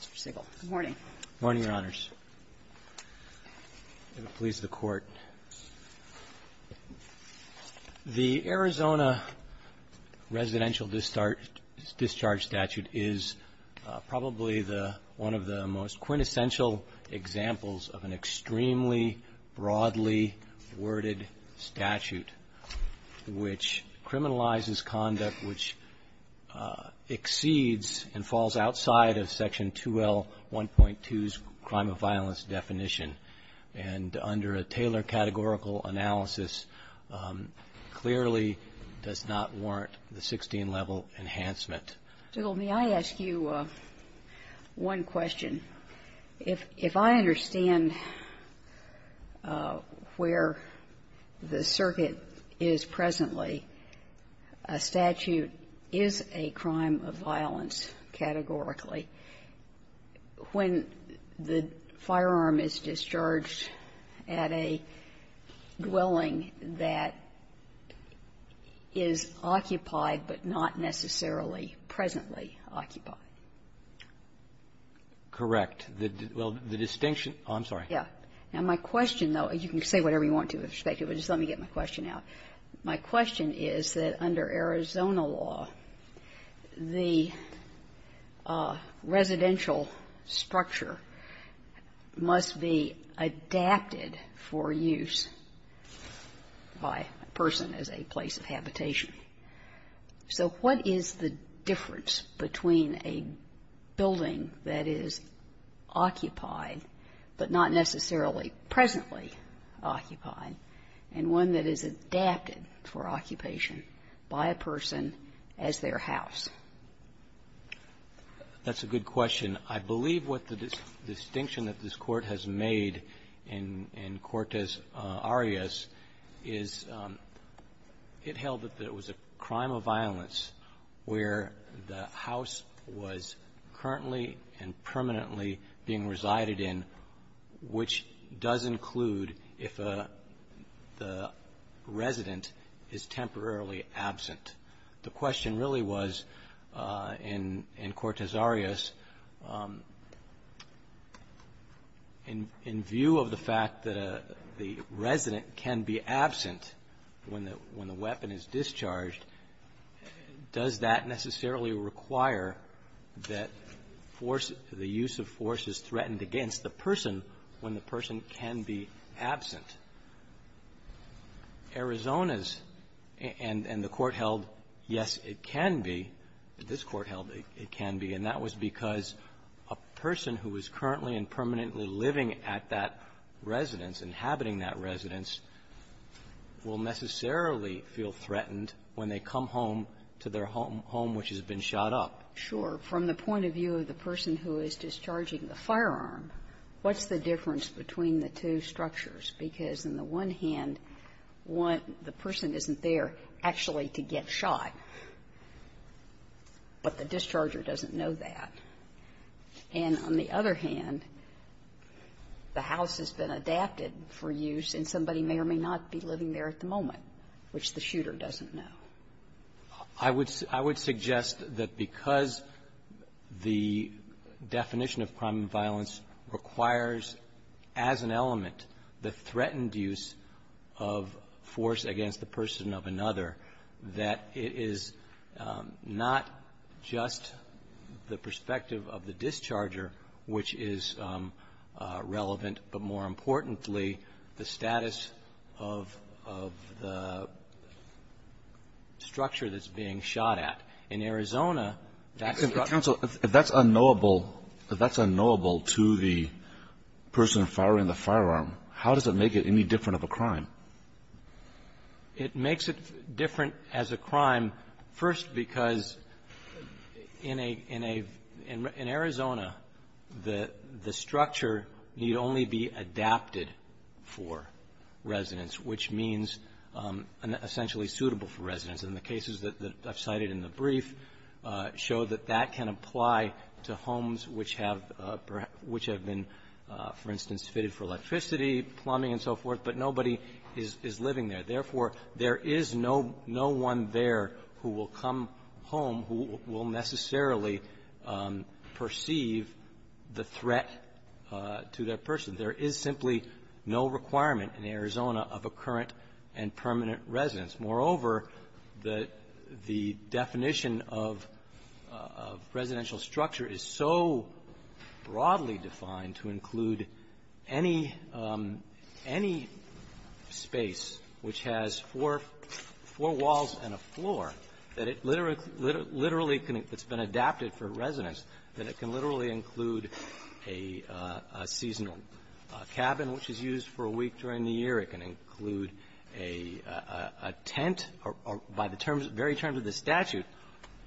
Mr. Sigel, good morning. MR. SIGEL Good morning, Your Honors. Let me please the Court. The Arizona residential discharge statute is probably one of the most quintessential examples of an extremely broadly worded statute which criminalizes conduct which exceeds and exceeds Section 2L1.2's crime of violence definition. And under a Taylor categorical analysis, clearly does not warrant the 16-level enhancement. JUSTICE GINSBURG Mr. Sigel, may I ask you one question? If I understand where the circuit is presently, a statute is a crime of violence, categorically, when the firearm is discharged at a dwelling that is occupied but not necessarily presently occupied. MR. SIGEL Correct. Well, the distinction — oh, I'm sorry. JUSTICE GINSBURG Yeah. Now, my question, though, you can say whatever you want to with respect to it, but just let me get my question out. My question is that under Arizona law, the residential structure must be adapted for use by a person as a place of habitation. So what is the difference between a building that is occupied but not necessarily presently occupied and one that is adapted for occupation by a person as their house? MR. SIGEL That's a good question. I believe what the distinction that this Court has made in Cortes Arias is it held that it was a crime of violence where the house was currently and permanently being resided in, which does include if the resident is temporarily absent. The question really was in Cortes Arias, in view of the fact that the resident can be absent when the weapon is discharged, does that necessarily require that the use of force is threatened against the person when the person can be absent? Arizona's and the Court held, yes, it can be, this Court held it can be, and that was because a person who is currently and permanently living at that residence, inhabiting that residence, will necessarily feel threatened when they come home to their home, which has been shot up. Kagan. From the point of view of the person who is discharging the firearm, what's the difference between the two structures? Because on the one hand, one, the person isn't there actually to get shot, but the discharger doesn't know that. And on the other hand, the house has been adapted for use, and somebody may or may not be living there at the moment, which the shooter doesn't know. MR. SIGEL I would suggest that because the definition of crime of violence requires as an element the threatened use of force against the person of another, that it is not just the perspective of the discharger which is relevant, but more importantly, the status of the structure that's being shot at. In Arizona, that structure need only be adapted for residence, which means essentially suitable for residence. And the cases that I've cited in the brief show that that can also be adapted for residence. apply to homes which have been, for instance, fitted for electricity, plumbing and so forth, but nobody is living there. Therefore, there is no one there who will come home who will necessarily perceive the threat to that person. There is simply no requirement in Arizona of a current and permanent residence. Moreover, the definition of residential structure is so broadly defined to include any space which has four walls and a floor that it literally can be adapted for residence, that it can literally include a seasonal cabin which is used for a week during the year. It can include a tent or, by the terms, very terms of the statute,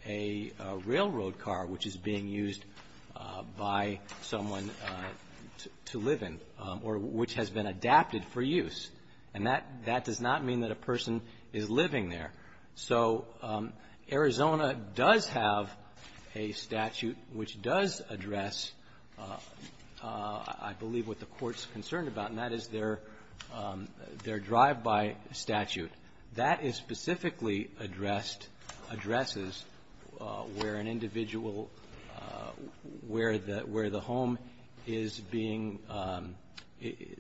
a railroad car which is being used by someone to live in or which has been adapted for use. And that does not mean that a person is living there. So Arizona does have a statute which does address, I believe, what the Court's their drive-by statute. That is specifically addressed, addresses where an individual where the home is being,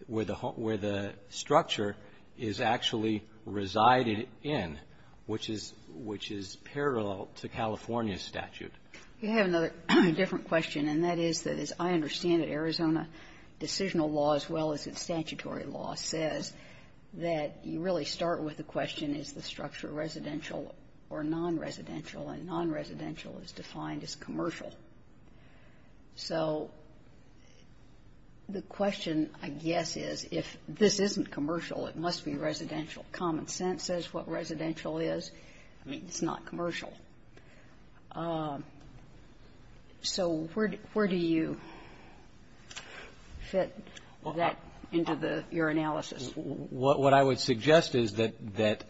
where the structure is actually resided in, which is parallel to California's statute. You have another different question, and that is that, as I understand it, Arizona Decisional Law, as well as its statutory law, says that you really start with the question is the structure residential or non-residential, and non-residential is defined as commercial. So the question, I guess, is if this isn't commercial, it must be residential. Common sense says what residential is. I mean, it's not commercial. So where do you fit that into your analysis? What I would suggest is that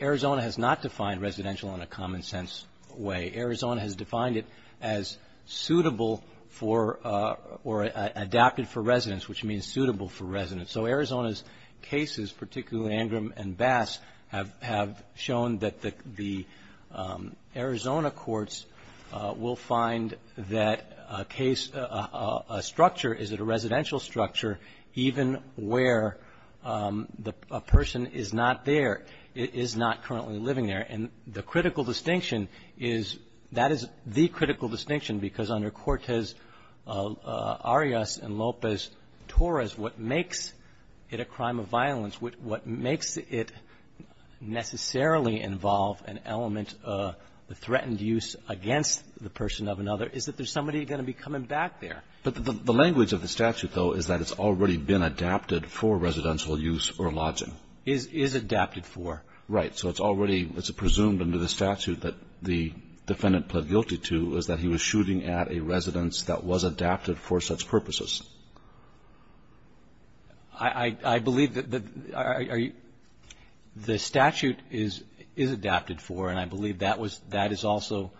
Arizona has not defined residential in a common sense way. Arizona has defined it as suitable for or adapted for residence, which means Arizona courts will find that a case, a structure, is it a residential structure even where a person is not there, is not currently living there. And the critical distinction is that is the critical distinction, because under Cortez, Arias, and Lopez-Torres, what makes it a crime of violence, what makes it necessarily involve an element of the threatened use against the person of another, is that there's somebody going to be coming back there. But the language of the statute, though, is that it's already been adapted for residential use or lodging. Is adapted for. Right. So it's already presumed under the statute that the defendant pled guilty to is that he was shooting at a residence that was adapted for such purposes. I believe that the statute is adapted for, and I believe that is also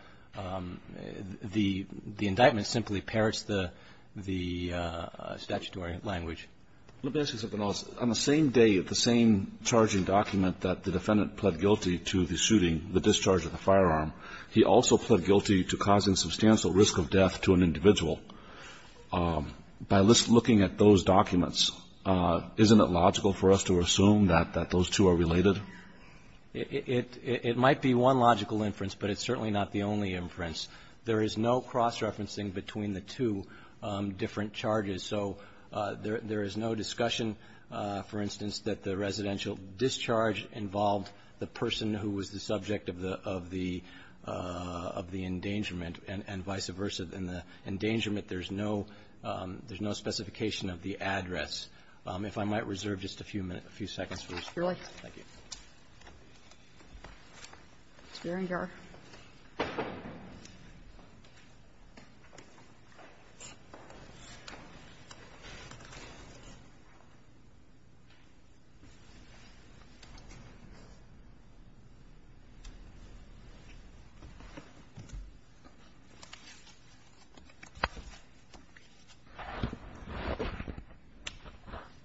the indictment simply parrots the statutory language. Let me ask you something else. On the same day, the same charging document that the defendant pled guilty to the shooting, the discharge of the firearm, he also pled guilty to causing substantial risk of death to an individual. By looking at those documents, isn't it logical for us to assume that those two are related? It might be one logical inference, but it's certainly not the only inference. There is no cross-referencing between the two different charges. So there is no discussion, for instance, that the residential discharge involved the person who was the subject of the endangerment, and vice versa. In the endangerment, there's no specification of the address. If I might reserve just a few minutes, a few seconds, please. Ms. Berenger.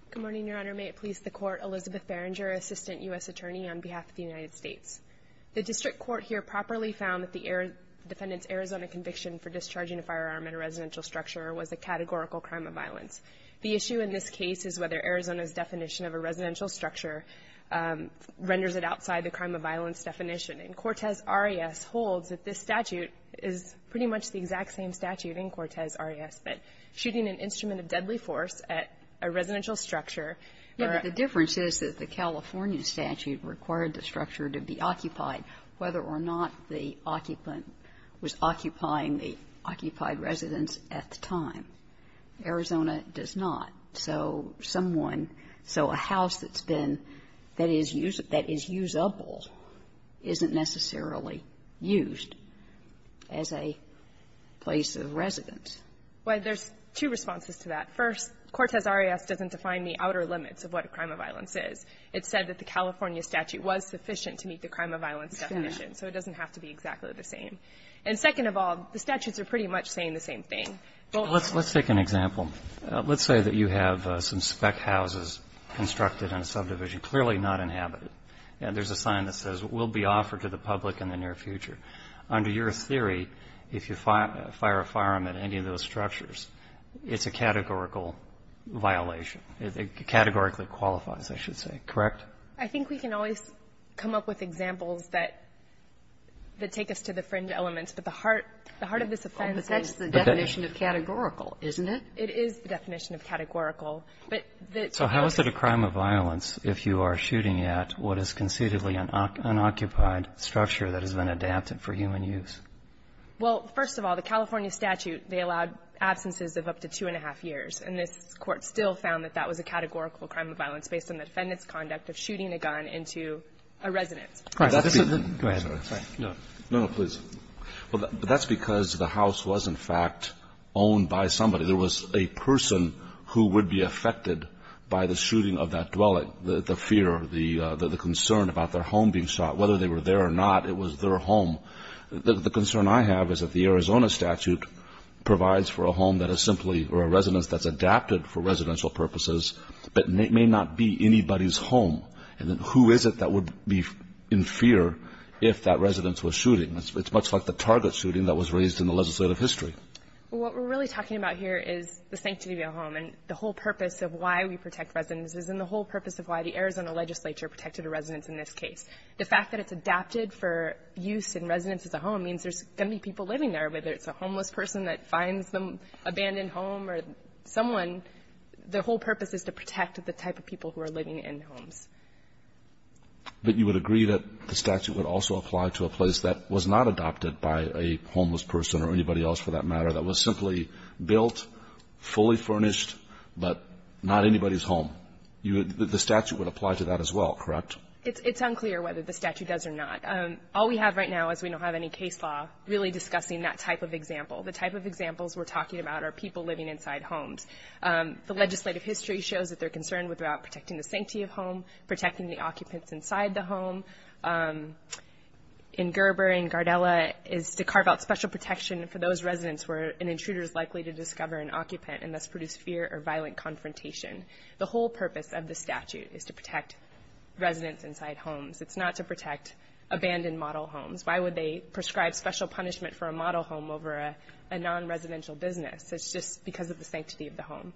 Good morning, Your Honor. May it please the Court, Elizabeth Berenger, Assistant U.S. Attorney on behalf of the United States. The district court here properly found that the defendant's Arizona conviction for discharging a firearm at a residential structure was a categorical crime of violence. The issue in this case is whether Arizona's definition of a residential structure renders it outside the crime of violence definition. And Cortez R.E.S. holds that this statute is pretty much the exact same statute in Cortez R.E.S., but shooting an instrument of deadly force at a residential structure or a ---- But the difference is that the California statute required the structure to be occupied, whether or not the occupant was occupying the occupied residence at the time. Arizona does not. So someone, so a house that's been, that is usable, isn't necessarily used as a place of residence. Well, there's two responses to that. First, Cortez R.E.S. doesn't define the outer limits of what a crime of violence is. It said that the California statute was sufficient to meet the crime of violence definition, so it doesn't have to be exactly the same. And second of all, the statutes are pretty much saying the same thing. Well, let's take an example. Let's say that you have some spec houses constructed in a subdivision, clearly not inhabited. And there's a sign that says, will be offered to the public in the near future. Under your theory, if you fire a firearm at any of those structures, it's a categorical violation. It categorically qualifies, I should say. Correct? I think we can always come up with examples that take us to the fringe elements. But the heart of this offense is ---- But that's the definition of categorical, isn't it? It is the definition of categorical. But the ---- So how is it a crime of violence if you are shooting at what is concededly an unoccupied structure that has been adapted for human use? Well, first of all, the California statute, they allowed absences of up to two and a half years. And this Court still found that that was a categorical crime of violence based on the defendant's conduct of shooting a gun into a residence. Go ahead. No, no, please. Well, that's because the house was, in fact, owned by somebody. There was a person who would be affected by the shooting of that dwelling. But the fear, the concern about their home being shot, whether they were there or not, it was their home. The concern I have is that the Arizona statute provides for a home that is simply or a residence that's adapted for residential purposes but may not be anybody's home. And then who is it that would be in fear if that residence was shooting? It's much like the target shooting that was raised in the legislative history. Well, what we're really talking about here is the sanctity of your home and the whole purpose of why the Arizona legislature protected a residence in this case. The fact that it's adapted for use in residence as a home means there's going to be people living there. Whether it's a homeless person that finds them an abandoned home or someone, the whole purpose is to protect the type of people who are living in homes. But you would agree that the statute would also apply to a place that was not adopted by a homeless person or anybody else for that matter, that was simply built, fully furnished, but not anybody's home. The statute would apply to that as well, correct? It's unclear whether the statute does or not. All we have right now is we don't have any case law really discussing that type of example. The type of examples we're talking about are people living inside homes. The legislative history shows that they're concerned about protecting the sanctity of home, protecting the occupants inside the home. In Gerber and Gardella, it's to carve out special protection for those residents where an intruder is likely to discover an occupant and thus produce fear or violent confrontation. The whole purpose of the statute is to protect residents inside homes. It's not to protect abandoned model homes. Why would they prescribe special punishment for a model home over a nonresidential business? It's just because of the sanctity of the home.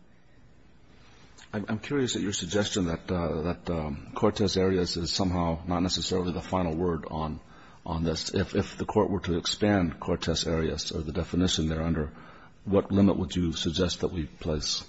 I'm curious at your suggestion that Cortez Areas is somehow not necessarily the final word on this. If the Court were to expand Cortez Areas or the definition there under, what limit would you suggest that we place?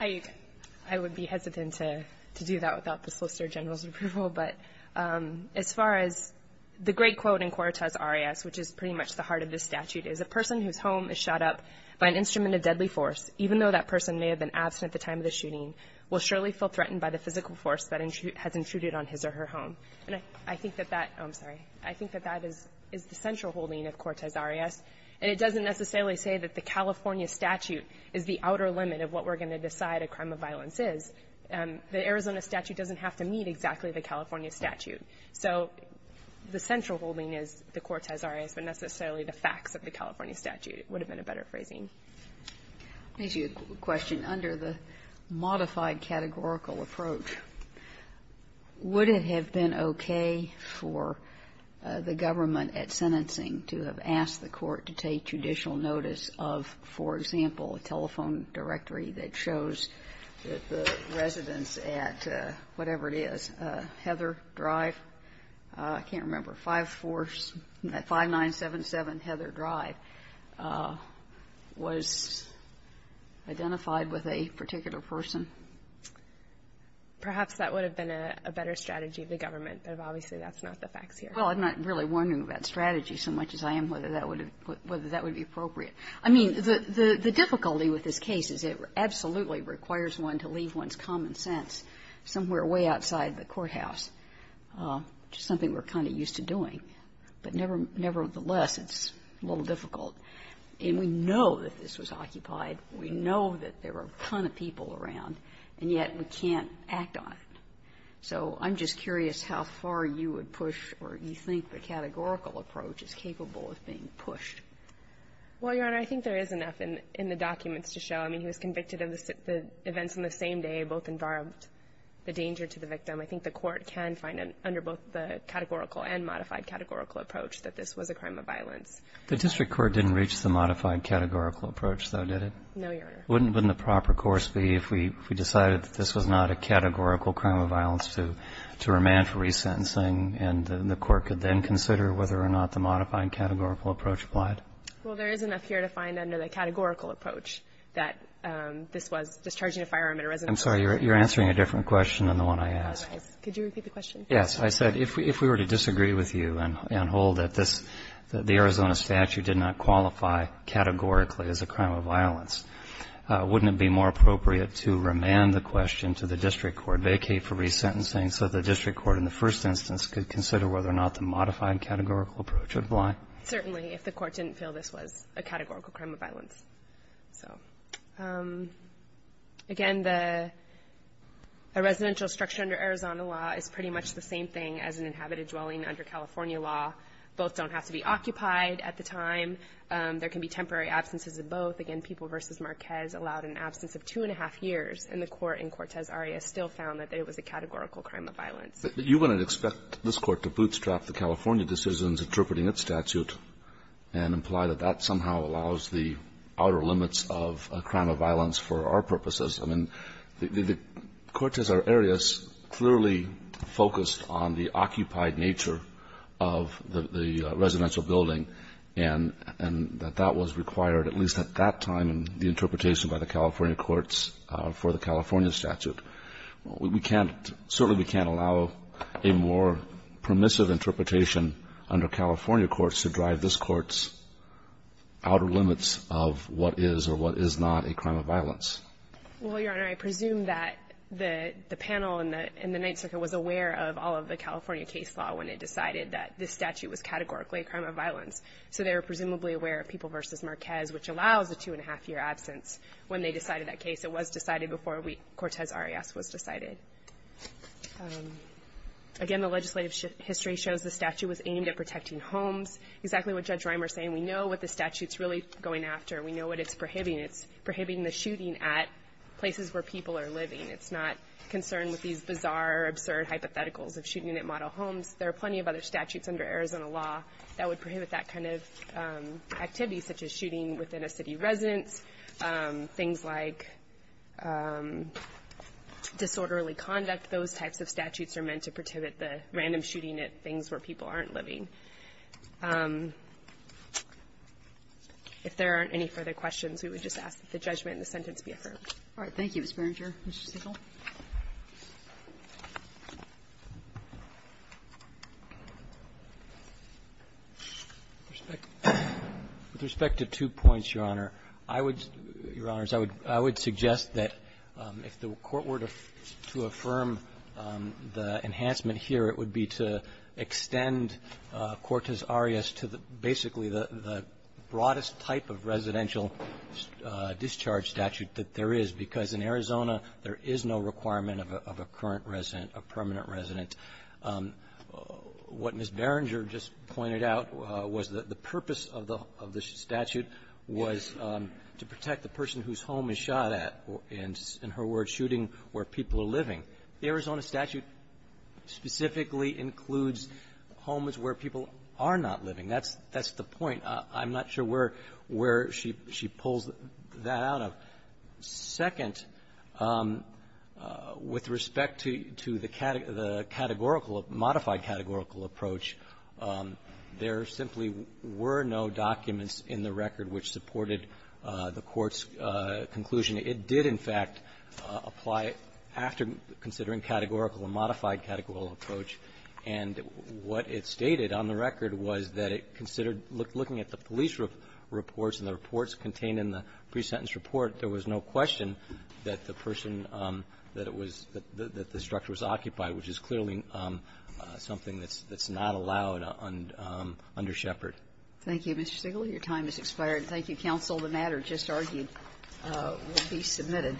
I would be hesitant to do that without the Solicitor General's approval. But as far as the great quote in Cortez Areas, which is pretty much the heart of this statute, is a person whose home is shot up by an instrument of deadly force, even though that person may have been absent at the time of the shooting, will surely feel threatened by the physical force that has intruded on his or her home. And I think that that is the central holding of Cortez Areas. And it doesn't necessarily say that the California statute is the outer limit of what we're going to decide a crime of violence is. The Arizona statute doesn't have to meet exactly the California statute. So the central holding is the Cortez Areas, but necessarily the facts of the California statute would have been a better phrasing. Let me ask you a question. Under the modified categorical approach, would it have been okay for the government at sentencing to have asked the court to take judicial notice of, for example, a telephone directory that shows that the residents at whatever it is, Heather Drive, I can't remember, 5977 Heather Drive, was identified with a particular person? Perhaps that would have been a better strategy of the government, but obviously that's not the facts here. Well, I'm not really wondering about strategy so much as I am whether that would be appropriate. I mean, the difficulty with this case is it absolutely requires one to leave one's common sense somewhere way outside the courthouse, which is something we're kind of used to doing. But nevertheless, it's a little difficult. And we know that this was occupied. We know that there were a ton of people around, and yet we can't act on it. So I'm just curious how far you would push or you think the categorical approach is capable of being pushed. Well, Your Honor, I think there is enough in the documents to show. I mean, he was convicted of the events on the same day, both involved the danger to the victim. I think the court can find under both the categorical and modified categorical approach that this was a crime of violence. The district court didn't reach the modified categorical approach, though, did it? No, Your Honor. Wouldn't the proper course be if we decided that this was not a categorical crime of violence to remand for resentencing, and the court could then consider whether or not the modified categorical approach applied? Well, there is enough here to find under the categorical approach that this was discharging a firearm at a resident. I'm sorry, you're answering a different question than the one I asked. Could you repeat the question? Yes. I said if we were to disagree with you and hold that this the Arizona statute did not qualify categorically as a crime of violence, wouldn't it be more appropriate to remand the question to the district court, vacate for resentencing, so the district court in the first instance could consider whether or not the modified categorical approach would apply? Certainly, if the court didn't feel this was a categorical crime of violence. So again, the residential structure under Arizona law is pretty much the same thing as an inhabited dwelling under California law. Both don't have to be occupied at the time. There can be temporary absences of both. Again, People v. Marquez allowed an absence of two and a half years, and the court in Cortez-Arias still found that it was a categorical crime of violence. But you wouldn't expect this Court to bootstrap the California decisions interpreting its statute and imply that that somehow allows the outer limits of a crime of violence for our purposes. I mean, the Cortez-Arias clearly focused on the occupied nature of the residential building, and that that was required at least at that time in the interpretation by the California courts for the California statute. We can't, certainly we can't allow a more permissive interpretation under California courts to drive this Court's outer limits of what is or what is not a crime of violence. Well, Your Honor, I presume that the panel in the Ninth Circuit was aware of all of the California case law when it decided that this statute was categorically a crime of violence. So they were presumably aware of People v. Marquez, which allows a two and a half year absence when they decided that case. It was decided before Cortez-Arias was decided. Again, the legislative history shows the statute was aimed at protecting homes, exactly what Judge Reimer is saying. We know what the statute is really going after. We know what it's prohibiting. It's prohibiting the shooting at places where people are living. It's not concerned with these bizarre, absurd hypotheticals of shooting at model homes. There are plenty of other statutes under Arizona law that would prohibit that kind of activity, such as shooting within a city residence, things like disorderly conduct. Those types of statutes are meant to prohibit the random shooting at things where people aren't living. If there aren't any further questions, we would just ask that the judgment in this sentence be affirmed. All right. Thank you, Ms. Berenger. Mr. Siegel. With respect to two points, Your Honor, I would, Your Honors, I would suggest that if the Court were to affirm the enhancement here, it would be to extend Cortez-Arias to basically the broadest type of residential discharge statute that there is, because in Arizona, there is no requirement of a current resident, a permanent resident. What Ms. Berenger just pointed out was that the purpose of the statute was to protect the person whose home is shot at and, in her words, shooting where people are living. The Arizona statute specifically includes homes where people are not living. That's the point. I'm not sure where she pulls that out of. Second, with respect to the categorical of modified categorical approach, there simply were no documents in the record which were considering categorical or modified categorical approach. And what it stated on the record was that it considered looking at the police reports and the reports contained in the pre-sentence report, there was no question that the person that it was the structure was occupied, which is clearly something that's not allowed under Shepard. Thank you, Mr. Siegel. Your time has expired. Thank you, counsel. The matter just argued will be submitted.